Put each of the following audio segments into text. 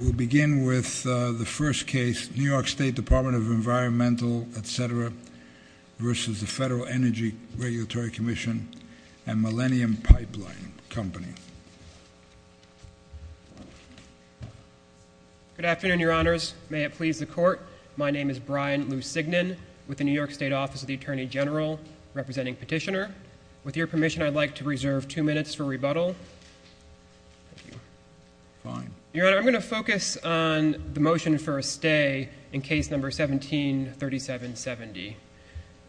We'll begin with the first case, New York State Department of Environmental, etc., versus the Federal Energy Regulatory Commission and Millennium Pipeline Company. Good afternoon, Your Honors. May it please the Court, my name is Brian Lusignan, with the New York State Office of the Attorney General, representing Petitioner. With your permission, I'd like to reserve two minutes for rebuttal. Thank you. Fine. Your Honor, I'm going to focus on the motion for a stay in Case No. 17-3770.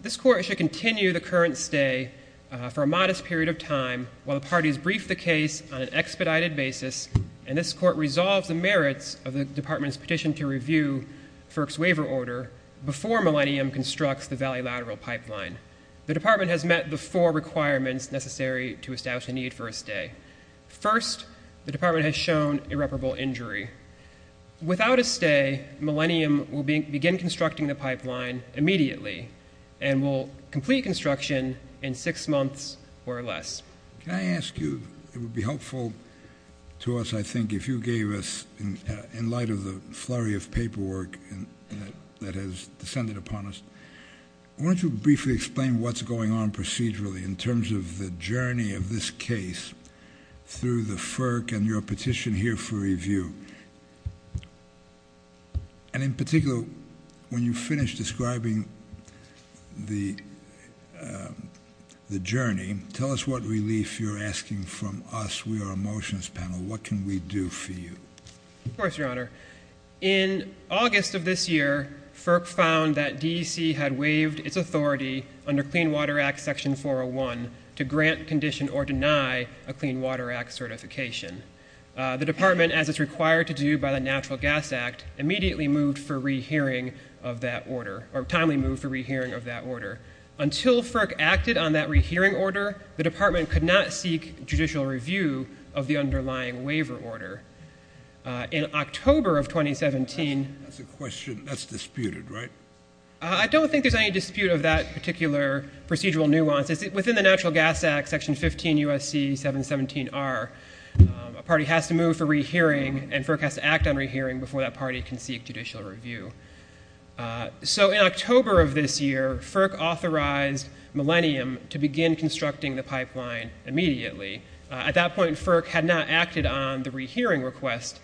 This Court should continue the current stay for a modest period of time while the parties brief the case on an expedited basis, and this Court resolves the merits of the Department's petition to review FERC's waiver order before Millennium constructs the valley lateral pipeline. The Department has met the four requirements necessary to establish a need for a stay. First, the Department has shown irreparable injury. Without a stay, Millennium will begin constructing the pipeline immediately and will complete construction in six months or less. Can I ask you, it would be helpful to us, I think, if you gave us, in light of the flurry of paperwork that has descended upon us, why don't you briefly explain what's going on procedurally in terms of the journey of this case through the FERC and your petition here for review? And in particular, when you finish describing the journey, tell us what relief you're asking from us, we are a motions panel. What can we do for you? Of course, Your Honor. In August of this year, FERC found that DEC had waived its authority under Clean Water Act Section 401 to grant, condition, or deny a Clean Water Act certification. The Department, as is required to do by the Natural Gas Act, immediately moved for re-hearing of that order, or timely moved for re-hearing of that order. Until FERC acted on that re-hearing order, the Department could not seek judicial review of the underlying waiver order. In October of 2017, That's a question, that's disputed, right? I don't think there's any dispute of that particular procedural nuance. Within the Natural Gas Act, Section 15 U.S.C. 717R, a party has to move for re-hearing, and FERC has to act on re-hearing before that party can seek judicial review. So in October of this year, FERC authorized Millennium to begin constructing the pipeline immediately. At that point, FERC had not acted on the re-hearing request,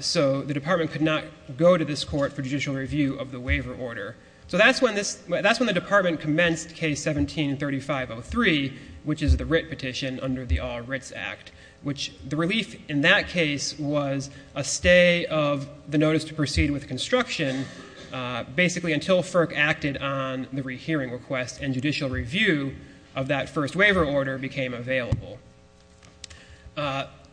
so the Department could not go to this Court for judicial review of the waiver order. So that's when the Department commenced Case 17-3503, which is the Writ Petition under the All Writs Act, which the relief in that case was a stay of the notice to proceed with construction, basically until FERC acted on the re-hearing request and judicial review of that first waiver order became available.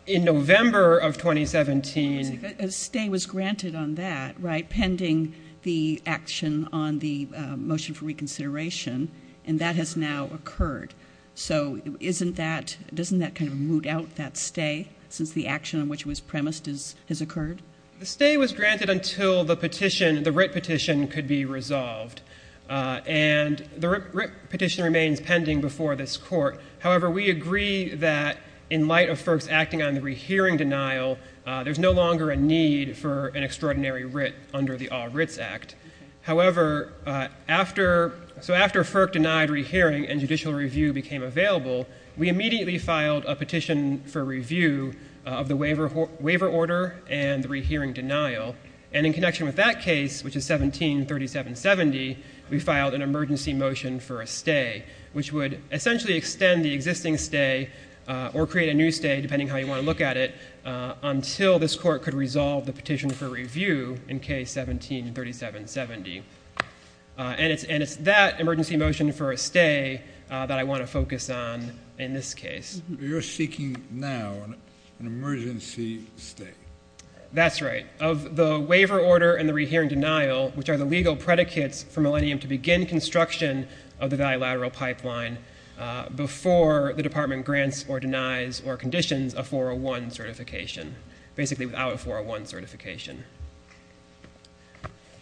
In November of 2017, A stay was granted on that, right, pending the action on the motion for reconsideration, and that has now occurred. So isn't that, doesn't that kind of root out that stay, since the action on which it was premised has occurred? The stay was granted until the petition, the Writ Petition, could be resolved. And the Writ Petition remains pending before this Court. However, we agree that in light of FERC's acting on the re-hearing denial, there's no longer a need for an extraordinary writ under the All Writs Act. However, after, so after FERC denied re-hearing and judicial review became available, we immediately filed a petition for review of the waiver order and the re-hearing denial. And in connection with that case, which is 173770, we filed an emergency motion for a stay, which would essentially extend the existing stay or create a new stay, depending on how you want to look at it, until this Court could resolve the petition for review in case 173770. And it's that emergency motion for a stay that I want to focus on in this case. You're seeking now an emergency stay. That's right, of the waiver order and the re-hearing denial, which are the legal predicates for Millennium to begin construction of the bilateral pipeline before the Department grants or denies or conditions a 401 certification, basically without a 401 certification.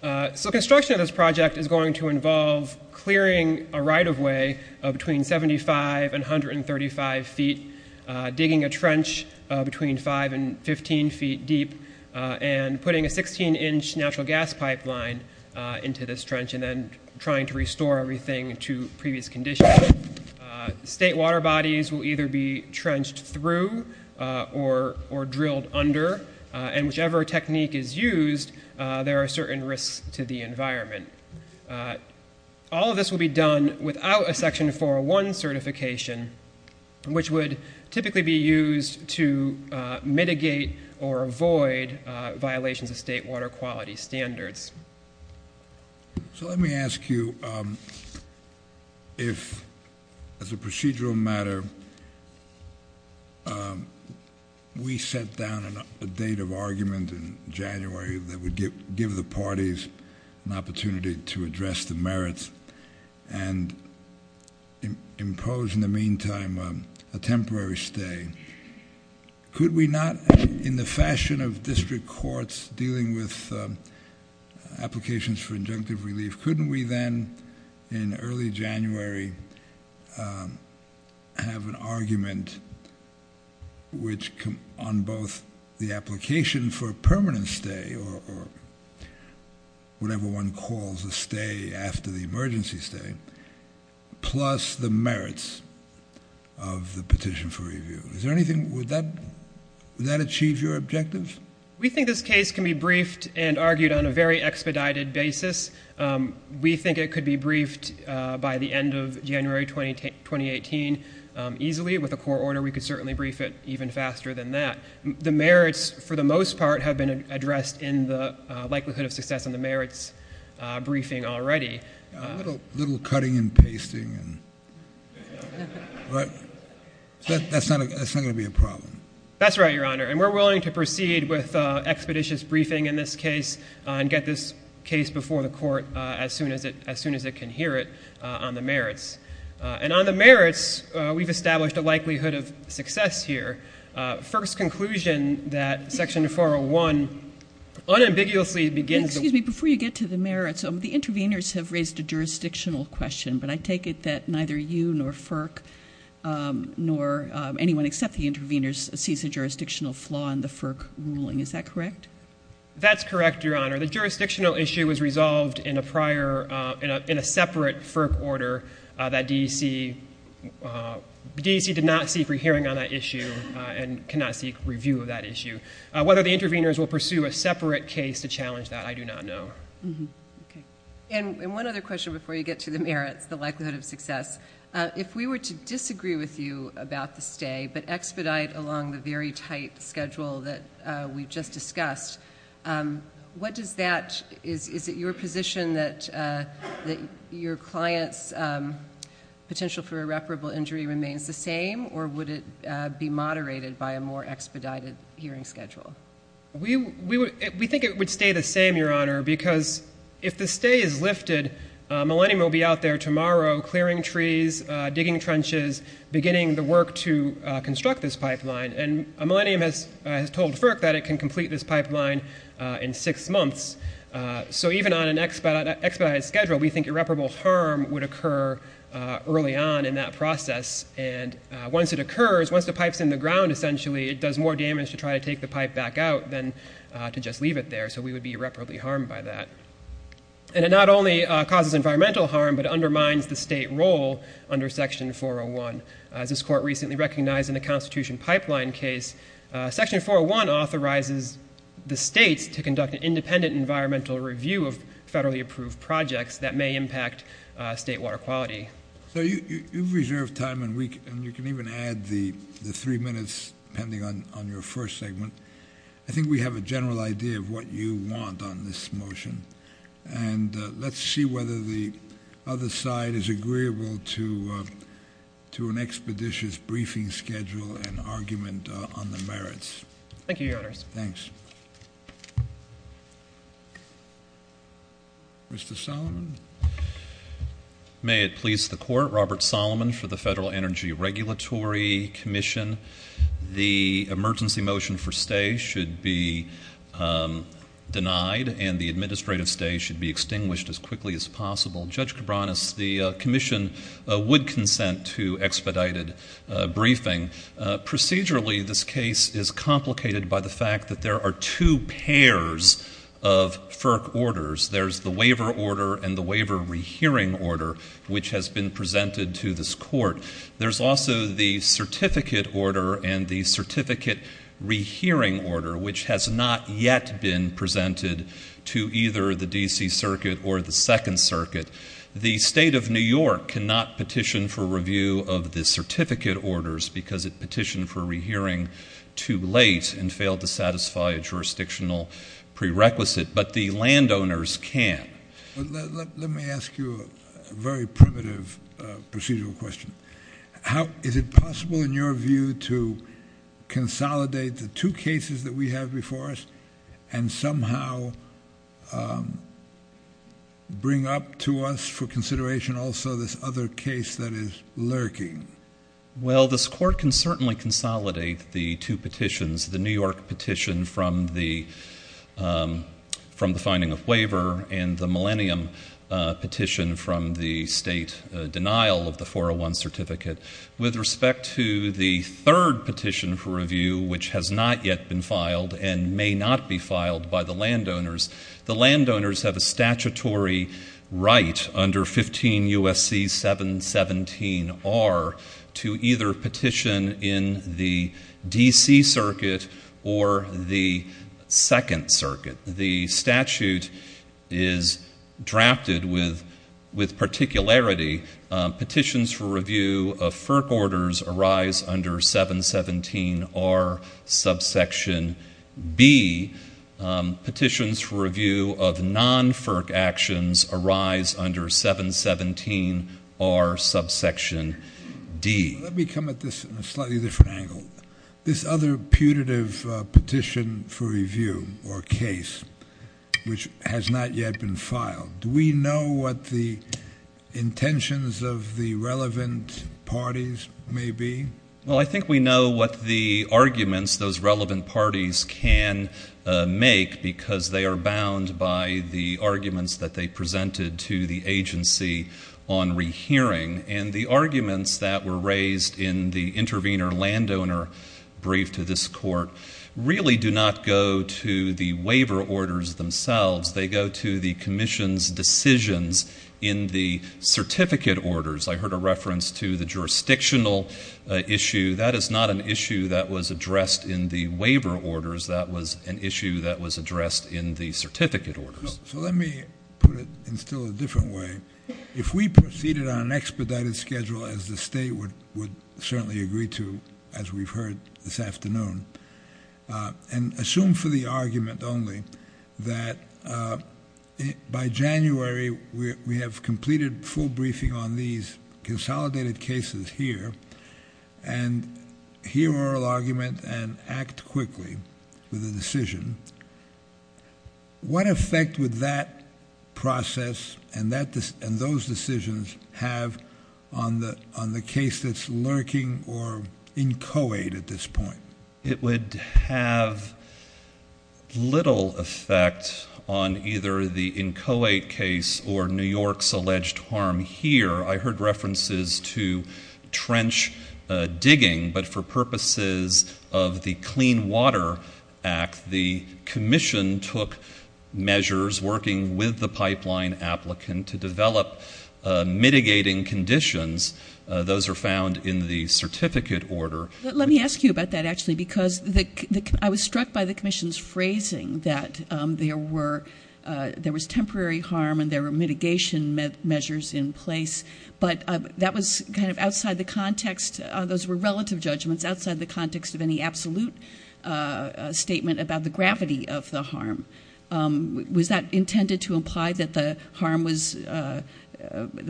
So construction of this project is going to involve clearing a right-of-way between 75 and 135 feet, digging a trench between 5 and 15 feet deep, and putting a 16-inch natural gas pipeline into this trench and then trying to restore everything to previous condition. State water bodies will either be trenched through or drilled under, and whichever technique is used, there are certain risks to the environment. All of this will be done without a Section 401 certification, which would typically be used to mitigate or avoid violations of state water quality standards. So let me ask you if, as a procedural matter, we set down a date of argument in January that would give the parties an opportunity to address the merits and impose, in the meantime, a temporary stay. Could we not, in the fashion of district courts dealing with applications for injunctive relief, couldn't we then, in early January, have an argument on both the application for a permanent stay or whatever one calls a stay after the emergency stay, plus the merits of the petition for review? Would that achieve your objective? We think this case can be briefed and argued on a very expedited basis. We think it could be briefed by the end of January 2018 easily. With a court order, we could certainly brief it even faster than that. The merits, for the most part, have been addressed in the likelihood of success in the merits briefing already. A little cutting and pasting, right? That's not going to be a problem. That's right, Your Honor. And we're willing to proceed with expeditious briefing in this case and get this case before the court as soon as it can hear it on the merits. And on the merits, we've established a likelihood of success here. FERC's conclusion that Section 401 unambiguously begins with- Excuse me. Before you get to the merits, the interveners have raised a jurisdictional question, but I take it that neither you nor FERC, nor anyone except the interveners, sees a jurisdictional flaw in the FERC ruling. Is that correct? That's correct, Your Honor. The jurisdictional issue was resolved in a separate FERC order that DEC did not seek a hearing on that issue and cannot seek review of that issue. Whether the interveners will pursue a separate case to challenge that, I do not know. And one other question before you get to the merits, the likelihood of success. If we were to disagree with you about the stay but expedite along the very tight schedule that we just discussed, what does that-is it your position that your client's potential for irreparable injury remains the same, or would it be moderated by a more expedited hearing schedule? We think it would stay the same, Your Honor, because if the stay is lifted, Millennium will be out there tomorrow clearing trees, digging trenches, beginning the work to construct this pipeline. And Millennium has told FERC that it can complete this pipeline in six months. So even on an expedited schedule, we think irreparable harm would occur early on in that process. And once it occurs, once the pipe's in the ground, essentially, it does more damage to try to take the pipe back out than to just leave it there. So we would be irreparably harmed by that. And it not only causes environmental harm, but undermines the state role under Section 401. As this court recently recognized in the Constitution Pipeline case, Section 401 authorizes the states to conduct an independent environmental review of federally approved projects that may impact state water quality. So you've reserved time, and you can even add the three minutes pending on your first segment. I think we have a general idea of what you want on this motion. And let's see whether the other side is agreeable to an expeditious briefing schedule and argument on the merits. Thank you, Your Honors. Thanks. Mr. Solomon? May it please the Court, Robert Solomon for the Federal Energy Regulatory Commission. The emergency motion for stay should be denied, and the administrative stay should be extinguished as quickly as possible. Judge Cabranes, the Commission would consent to expedited briefing. Procedurally, this case is complicated by the fact that there are two pairs of FERC orders. There's the waiver order and the waiver rehearing order, which has been presented to this court. There's also the certificate order and the certificate rehearing order, which has not yet been presented to either the D.C. Circuit or the Second Circuit. The State of New York cannot petition for review of the certificate orders because it petitioned for rehearing too late and failed to satisfy a jurisdictional prerequisite, but the landowners can. Let me ask you a very primitive procedural question. Is it possible, in your view, to consolidate the two cases that we have before us and somehow bring up to us for consideration also this other case that is lurking? Well, this court can certainly consolidate the two petitions, the New York petition from the finding of waiver and the Millennium petition from the State denial of the 401 certificate. With respect to the third petition for review, which has not yet been filed and may not be filed by the landowners, the landowners have a statutory right under 15 U.S.C. 717R to either petition in the D.C. Circuit or the Second Circuit. The statute is drafted with particularity. Petitions for review of FERC orders arise under 717R subsection B. Petitions for review of non-FERC actions arise under 717R subsection D. Let me come at this from a slightly different angle. This other putative petition for review or case, which has not yet been filed, do we know what the intentions of the relevant parties may be? Well, I think we know what the arguments those relevant parties can make because they are bound by the arguments that they presented to the agency on rehearing. And the arguments that were raised in the intervener landowner brief to this court really do not go to the waiver orders themselves. They go to the commission's decisions in the certificate orders. I heard a reference to the jurisdictional issue. That is not an issue that was addressed in the waiver orders. That was an issue that was addressed in the certificate orders. So let me put it in still a different way. If we proceeded on an expedited schedule, as the state would certainly agree to, as we've heard this afternoon, and assume for the argument only that by January we have completed full briefing on these consolidated cases here and hear oral argument and act quickly with a decision, what effect would that process and those decisions have on the case that's lurking or inchoate at this point? It would have little effect on either the inchoate case or New York's alleged harm here. I heard references to trench digging, but for purposes of the Clean Water Act, the commission took measures working with the pipeline applicant to develop mitigating conditions. Those are found in the certificate order. Let me ask you about that, actually, because I was struck by the commission's phrasing that there was temporary harm and there were mitigation measures in place, but that was kind of outside the context. Those were relative judgments outside the context of any absolute statement about the gravity of the harm. Was that intended to imply that the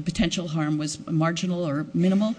potential harm was marginal or minimal?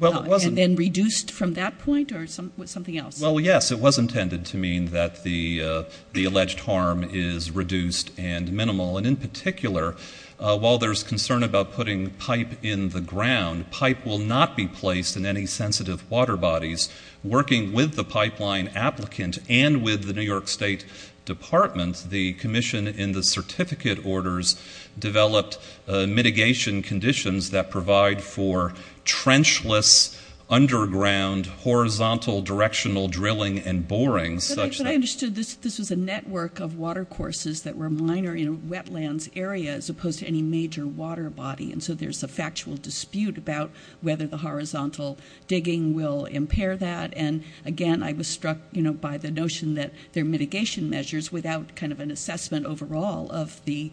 And then reduced from that point or something else? Well, yes, it was intended to mean that the alleged harm is reduced and minimal. And in particular, while there's concern about putting pipe in the ground, pipe will not be placed in any sensitive water bodies. Working with the pipeline applicant and with the New York State Department, the commission in the certificate orders developed mitigation conditions that provide for trenchless, underground, horizontal, directional drilling and boring. But I understood this was a network of watercourses that were minor in a wetlands area as opposed to any major water body, and so there's a factual dispute about whether the horizontal digging will impair that. And, again, I was struck by the notion that there are mitigation measures without kind of an assessment overall of the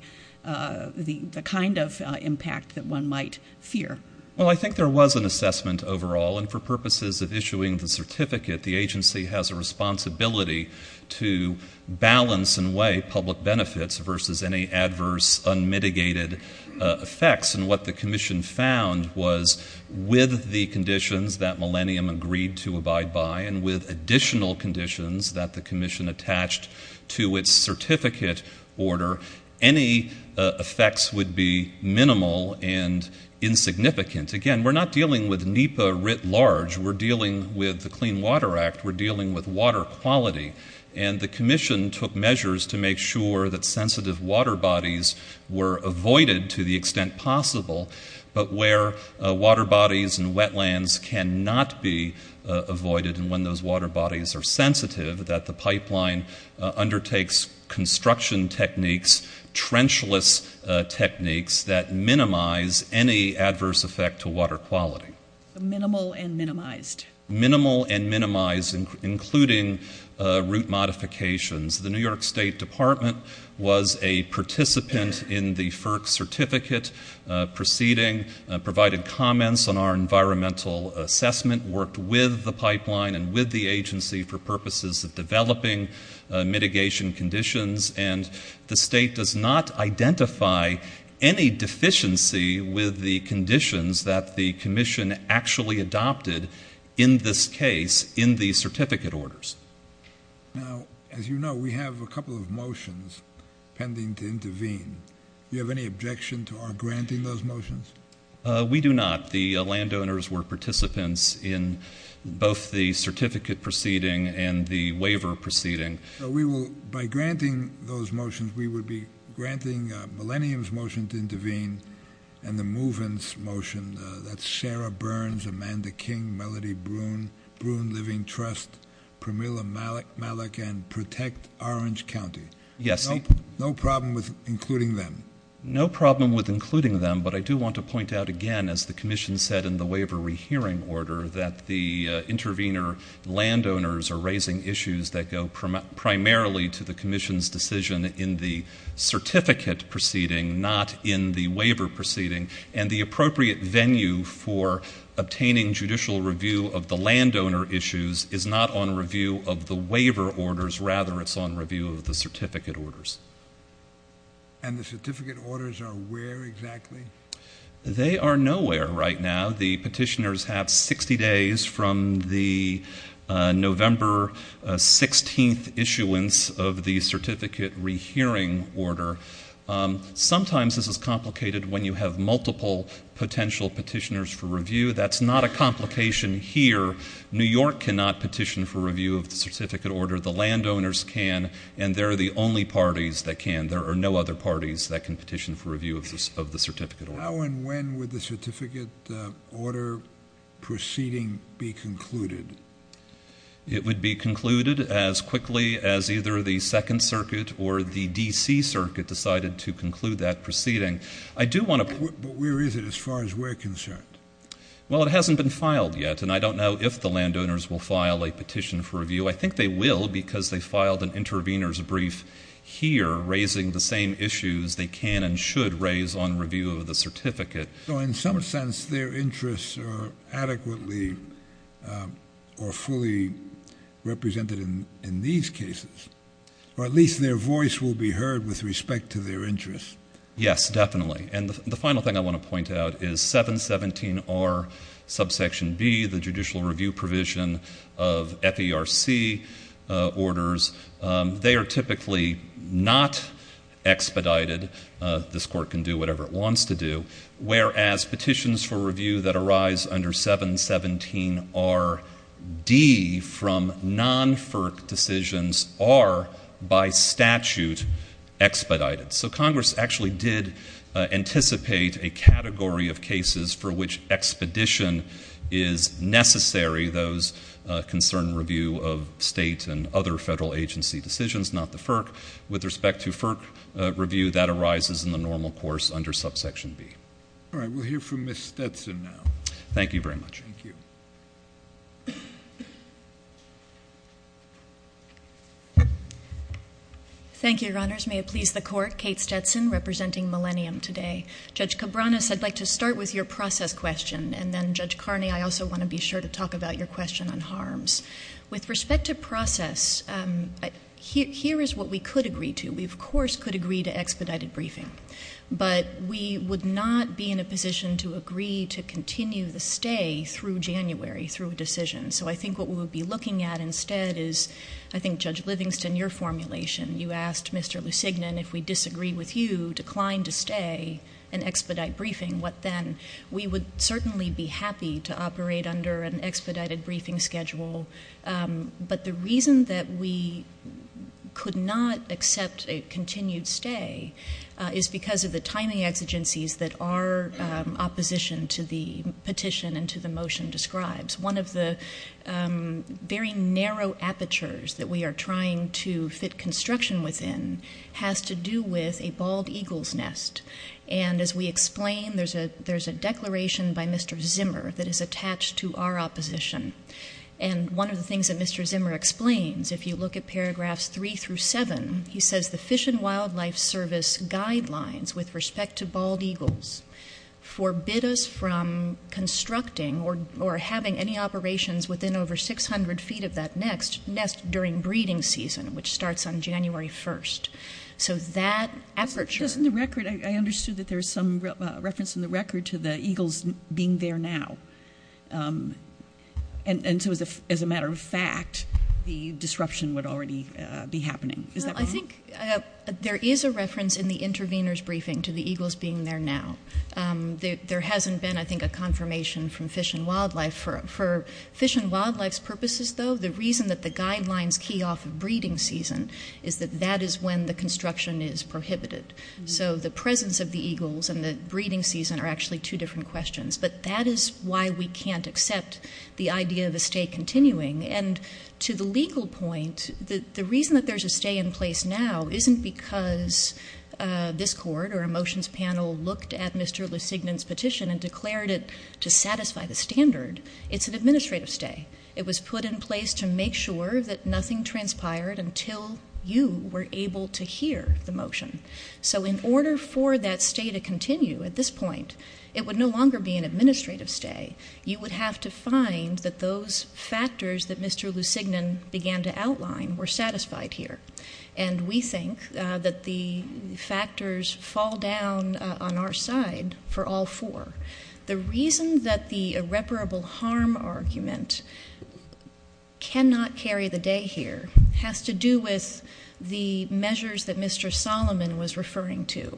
kind of impact that one might fear. Well, I think there was an assessment overall, and for purposes of issuing the certificate, the agency has a responsibility to balance and weigh public benefits versus any adverse, unmitigated effects. And what the commission found was with the conditions that Millennium agreed to abide by and with additional conditions that the commission attached to its certificate order, any effects would be minimal and insignificant. Again, we're not dealing with NEPA writ large. We're dealing with the Clean Water Act. We're dealing with water quality. And the commission took measures to make sure that sensitive water bodies were avoided to the extent possible, but where water bodies and wetlands cannot be avoided and when those water bodies are sensitive, that the pipeline undertakes construction techniques, trenchless techniques that minimize any adverse effect to water quality. Minimal and minimized. Minimal and minimized, including route modifications. The New York State Department was a participant in the FERC certificate proceeding, provided comments on our environmental assessment, worked with the pipeline and with the agency for purposes of developing mitigation conditions, and the state does not identify any deficiency with the conditions that the commission actually adopted in this case in the certificate orders. Now, as you know, we have a couple of motions pending to intervene. Do you have any objection to our granting those motions? We do not. The landowners were participants in both the certificate proceeding and the waiver proceeding. By granting those motions, we would be granting Millennium's motion to intervene and the Move-In's motion. That's Sarah Burns, Amanda King, Melody Bruhn, Bruhn Living Trust, Pramila Malik, Malik, and Protect Orange County. Yes. No problem with including them. No problem with including them, but I do want to point out again, as the commission said in the waiver rehearing order, that the intervener landowners are raising issues that go primarily to the commission's decision in the certificate proceeding, not in the waiver proceeding, and the appropriate venue for obtaining judicial review of the landowner issues is not on review of the waiver orders. Rather, it's on review of the certificate orders. And the certificate orders are where exactly? They are nowhere right now. The petitioners have 60 days from the November 16th issuance of the certificate rehearing order. Sometimes this is complicated when you have multiple potential petitioners for review. That's not a complication here. New York cannot petition for review of the certificate order. The landowners can, and they're the only parties that can. There are no other parties that can petition for review of the certificate order. How and when would the certificate order proceeding be concluded? It would be concluded as quickly as either the Second Circuit or the D.C. Circuit decided to conclude that proceeding. But where is it as far as we're concerned? Well, it hasn't been filed yet, and I don't know if the landowners will file a petition for review. I think they will because they filed an intervener's brief here raising the same issues they can and should raise on review of the certificate. So in some sense their interests are adequately or fully represented in these cases. Or at least their voice will be heard with respect to their interests. Yes, definitely. And the final thing I want to point out is 717R subsection B, the judicial review provision of FERC orders, they are typically not expedited. This court can do whatever it wants to do. Whereas petitions for review that arise under 717RD from non-FERC decisions are by statute expedited. So Congress actually did anticipate a category of cases for which expedition is necessary, those concern review of state and other federal agency decisions, not the FERC. With respect to FERC review, that arises in the normal course under subsection B. All right. We'll hear from Ms. Stetson now. Thank you very much. Thank you. Thank you, Your Honors. May it please the Court, Kate Stetson representing Millennium today. Judge Cabranes, I'd like to start with your process question, and then, Judge Carney, I also want to be sure to talk about your question on harms. With respect to process, here is what we could agree to. We, of course, could agree to expedited briefing, but we would not be in a position to agree to continue the stay through January through a decision. So I think what we would be looking at instead is, I think, Judge Livingston, your formulation. You asked Mr. Lusignan if we disagree with you, decline to stay, and expedite briefing. What then? We would certainly be happy to operate under an expedited briefing schedule, but the reason that we could not accept a continued stay is because of the timing exigencies that our opposition to the petition and to the motion describes. One of the very narrow apertures that we are trying to fit construction within has to do with a bald eagle's nest. And as we explain, there's a declaration by Mr. Zimmer that is attached to our opposition. And one of the things that Mr. Zimmer explains, if you look at paragraphs three through seven, he says the Fish and Wildlife Service guidelines with respect to bald eagles forbid us from constructing or having any operations within over 600 feet of that nest during breeding season, which starts on January 1st. So that aperture- I understood that there's some reference in the record to the eagles being there now. And so as a matter of fact, the disruption would already be happening. Is that wrong? I think there is a reference in the intervener's briefing to the eagles being there now. There hasn't been, I think, a confirmation from Fish and Wildlife. For Fish and Wildlife's purposes, though, the reason that the guidelines key off of breeding season is that that is when the construction is prohibited. So the presence of the eagles and the breeding season are actually two different questions. But that is why we can't accept the idea of a stay continuing. And to the legal point, the reason that there's a stay in place now isn't because this court or a motions panel looked at Mr. LeSignan's petition and declared it to satisfy the standard. It's an administrative stay. It was put in place to make sure that nothing transpired until you were able to hear the motion. So in order for that stay to continue at this point, it would no longer be an administrative stay. You would have to find that those factors that Mr. LeSignan began to outline were satisfied here. And we think that the factors fall down on our side for all four. The reason that the irreparable harm argument cannot carry the day here has to do with the measures that Mr. Solomon was referring to.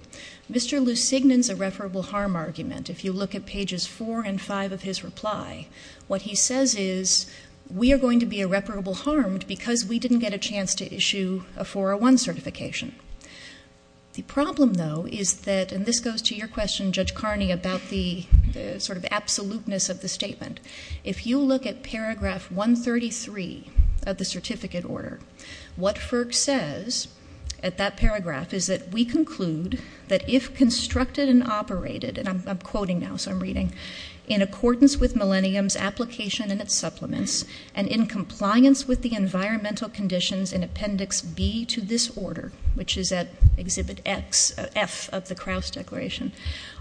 Mr. LeSignan's irreparable harm argument, if you look at pages four and five of his reply, what he says is we are going to be irreparable harmed because we didn't get a chance to issue a 401 certification. The problem, though, is that, and this goes to your question, Judge Carney, about the sort of absoluteness of the statement. If you look at paragraph 133 of the certificate order, what FERC says at that paragraph is that we conclude that if constructed and operated, and I'm quoting now, so I'm reading, in accordance with Millennium's application and its supplements and in compliance with the environmental conditions in Appendix B to this order, which is at Exhibit X, F of the Krauss Declaration,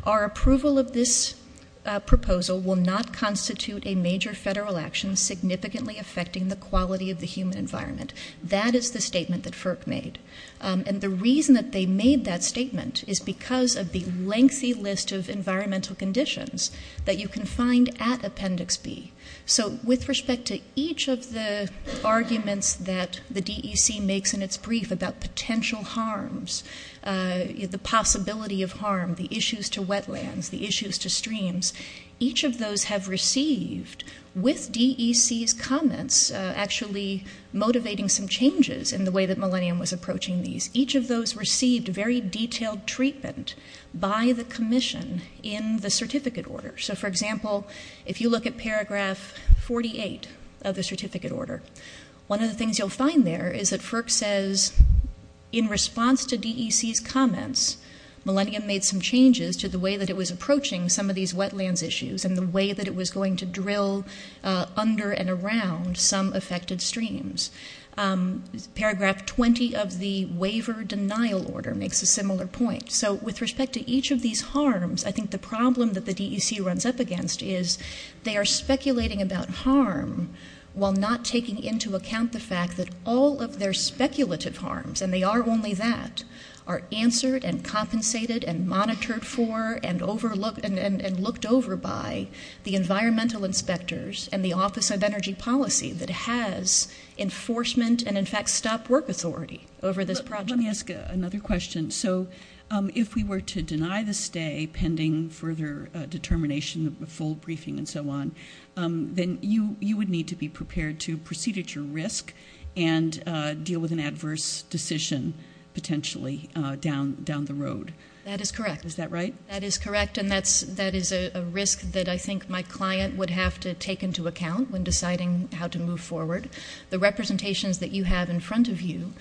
our approval of this proposal will not constitute a major federal action significantly affecting the quality of the human environment. That is the statement that FERC made. And the reason that they made that statement is because of the lengthy list of environmental conditions that you can find at Appendix B. So with respect to each of the arguments that the DEC makes in its brief about potential harms, the possibility of harm, the issues to wetlands, the issues to streams, each of those have received, with DEC's comments actually motivating some changes in the way that Millennium was approaching these, each of those received very detailed treatment by the commission in the certificate order. So, for example, if you look at paragraph 48 of the certificate order, one of the things you'll find there is that FERC says in response to DEC's comments, Millennium made some changes to the way that it was approaching some of these wetlands issues and the way that it was going to drill under and around some affected streams. Paragraph 20 of the waiver denial order makes a similar point. So with respect to each of these harms, I think the problem that the DEC runs up against is they are speculating about harm while not taking into account the fact that all of their speculative harms, and they are only that, are answered and compensated and monitored for and looked over by the environmental inspectors and the Office of Energy Policy that has enforcement and, in fact, stop work authority over this project. Let me ask another question. So if we were to deny the stay pending further determination, a full briefing and so on, then you would need to be prepared to proceed at your risk and deal with an adverse decision potentially down the road. That is correct. Is that right? That is correct, and that is a risk that I think my client would have to take into account when deciding how to move forward. The representations that you have in front of you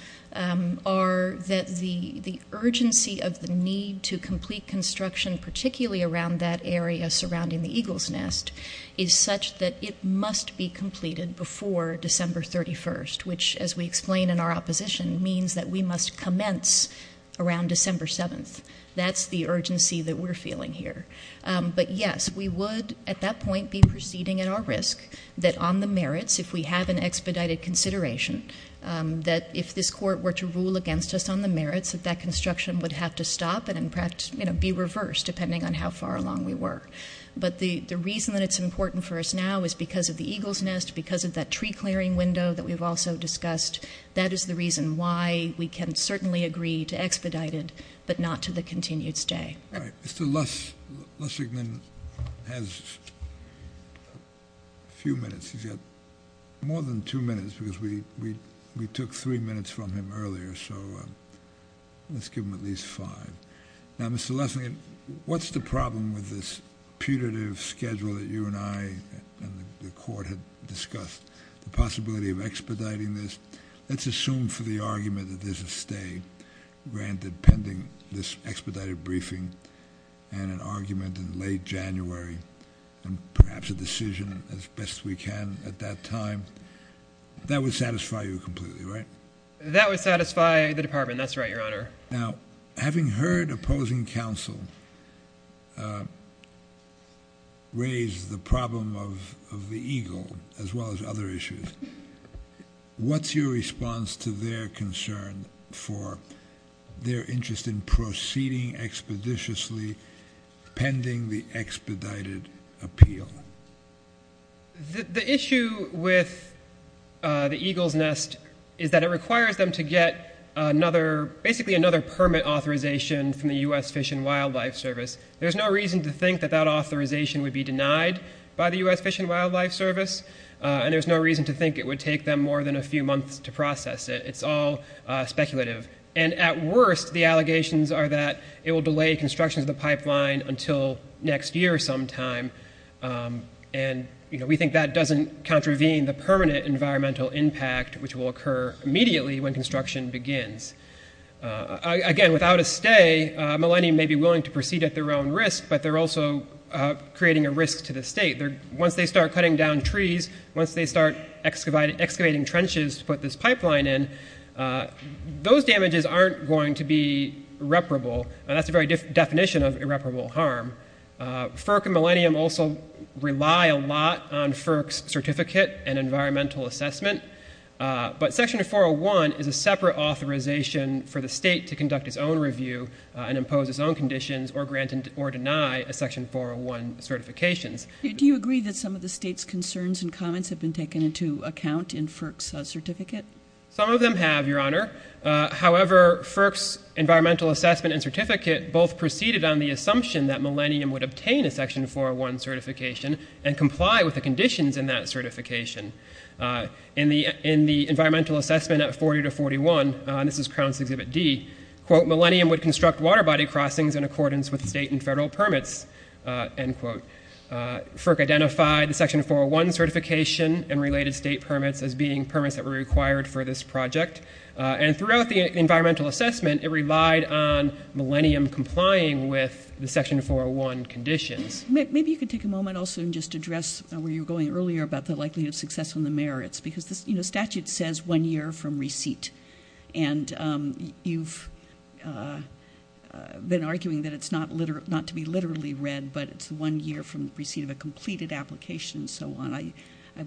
are that the urgency of the need to complete construction, particularly around that area surrounding the Eagle's Nest, is such that it must be completed before December 31st, which, as we explain in our opposition, means that we must commence around December 7th. That's the urgency that we're feeling here. But, yes, we would at that point be proceeding at our risk that on the merits, if we have an expedited consideration, that if this court were to rule against us on the merits, that that construction would have to stop and perhaps be reversed depending on how far along we were. But the reason that it's important for us now is because of the Eagle's Nest, because of that tree clearing window that we've also discussed. That is the reason why we can certainly agree to expedite it but not to the continued stay. All right. Mr. Lessig has a few minutes. He's got more than two minutes because we took three minutes from him earlier. So let's give him at least five. Now, Mr. Lessig, what's the problem with this putative schedule that you and I and the court had discussed, the possibility of expediting this? Let's assume for the argument that there's a stay granted pending this expedited briefing and an argument in late January and perhaps a decision as best we can at that time. That would satisfy you completely, right? That would satisfy the Department. That's right, Your Honor. Now, having heard opposing counsel raise the problem of the Eagle as well as other issues, what's your response to their concern for their interest in proceeding expeditiously pending the expedited appeal? The issue with the Eagle's Nest is that it requires them to get another, basically another permit authorization from the U.S. Fish and Wildlife Service. There's no reason to think that that authorization would be denied by the U.S. Fish and Wildlife Service, and there's no reason to think it would take them more than a few months to process it. It's all speculative. And at worst, the allegations are that it will delay construction of the pipeline until next year sometime, and we think that doesn't contravene the permanent environmental impact, which will occur immediately when construction begins. Again, without a stay, Millennium may be willing to proceed at their own risk, but they're also creating a risk to the state. Once they start cutting down trees, once they start excavating trenches to put this pipeline in, those damages aren't going to be irreparable, and that's the very definition of irreparable harm. FERC and Millennium also rely a lot on FERC's certificate and environmental assessment, but Section 401 is a separate authorization for the state to conduct its own review and impose its own conditions or grant or deny a Section 401 certification. Do you agree that some of the state's concerns and comments have been taken into account in FERC's certificate? Some of them have, Your Honor. However, FERC's environmental assessment and certificate both proceeded on the assumption that Millennium would obtain a Section 401 certification and comply with the conditions in that certification. In the environmental assessment at 40 to 41, and this is Crowns Exhibit D, quote, Millennium would construct water body crossings in accordance with state and federal permits, end quote. FERC identified the Section 401 certification and related state permits as being permits that were required for this project, and throughout the environmental assessment, it relied on Millennium complying with the Section 401 conditions. Maybe you could take a moment also and just address where you were going earlier about the likelihood of success on the merits, because the statute says one year from receipt, and you've been arguing that it's not to be literally read, but it's one year from receipt of a completed application and so on. I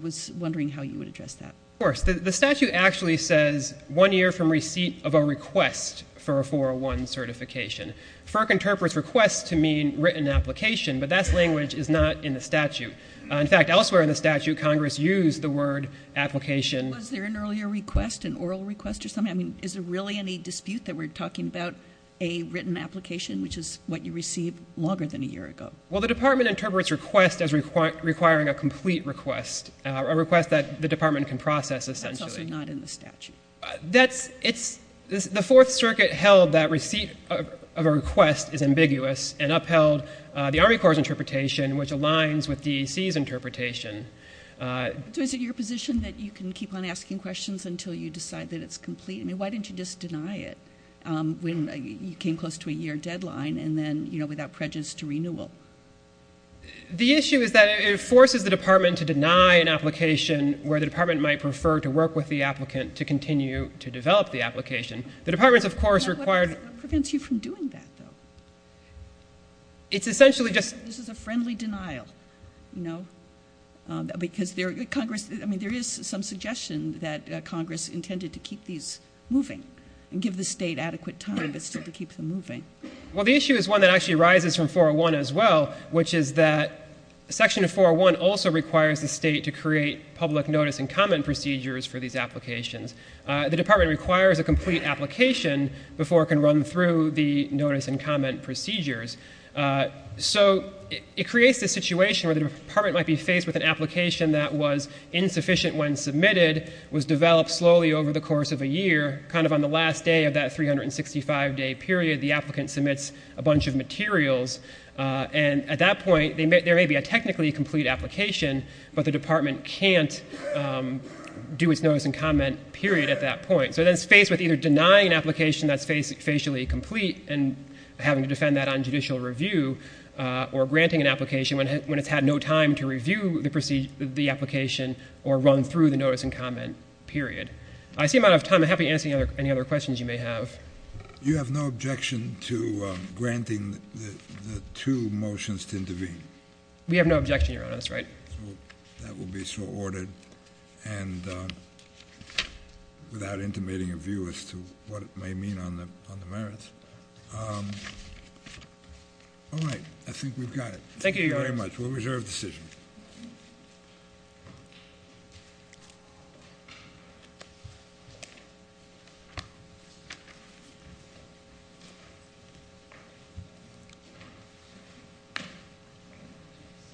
was wondering how you would address that. Of course. The statute actually says one year from receipt of a request for a 401 certification. FERC interprets request to mean written application, but that language is not in the statute. In fact, elsewhere in the statute, Congress used the word application. Was there an earlier request, an oral request or something? I mean, is there really any dispute that we're talking about a written application, which is what you received longer than a year ago? Well, the Department interprets request as requiring a complete request, a request that the Department can process essentially. That's also not in the statute. The Fourth Circuit held that receipt of a request is ambiguous and upheld the Army Corps' interpretation, which aligns with DEC's interpretation. So is it your position that you can keep on asking questions until you decide that it's complete? I mean, why didn't you just deny it when you came close to a year deadline and then, you know, without prejudice, to renewal? The issue is that it forces the Department to deny an application where the Department might prefer to work with the applicant to continue to develop the application. The Department's, of course, required— What prevents you from doing that, though? It's essentially just— This is a friendly denial, you know, because Congress— I mean, there is some suggestion that Congress intended to keep these moving and give the state adequate time, but still to keep them moving. Well, the issue is one that actually arises from 401 as well, which is that Section 401 also requires the state to create public notice and comment procedures for these applications. The Department requires a complete application before it can run through the notice and comment procedures. So it creates this situation where the Department might be faced with an application that was insufficient when submitted, was developed slowly over the course of a year. Kind of on the last day of that 365-day period, the applicant submits a bunch of materials. And at that point, there may be a technically complete application, but the Department can't do its notice and comment period at that point. So then it's faced with either denying an application that's facially complete and having to defend that on judicial review or granting an application when it's had no time to review the application or run through the notice and comment period. I see I'm out of time. I'm happy to answer any other questions you may have. You have no objection to granting the two motions to intervene? We have no objection, Your Honor. That's right. That will be so ordered and without intimating a view as to what it may mean on the merits. All right. I think we've got it. Thank you, Your Honor. Thank you very much. We'll reserve the decision.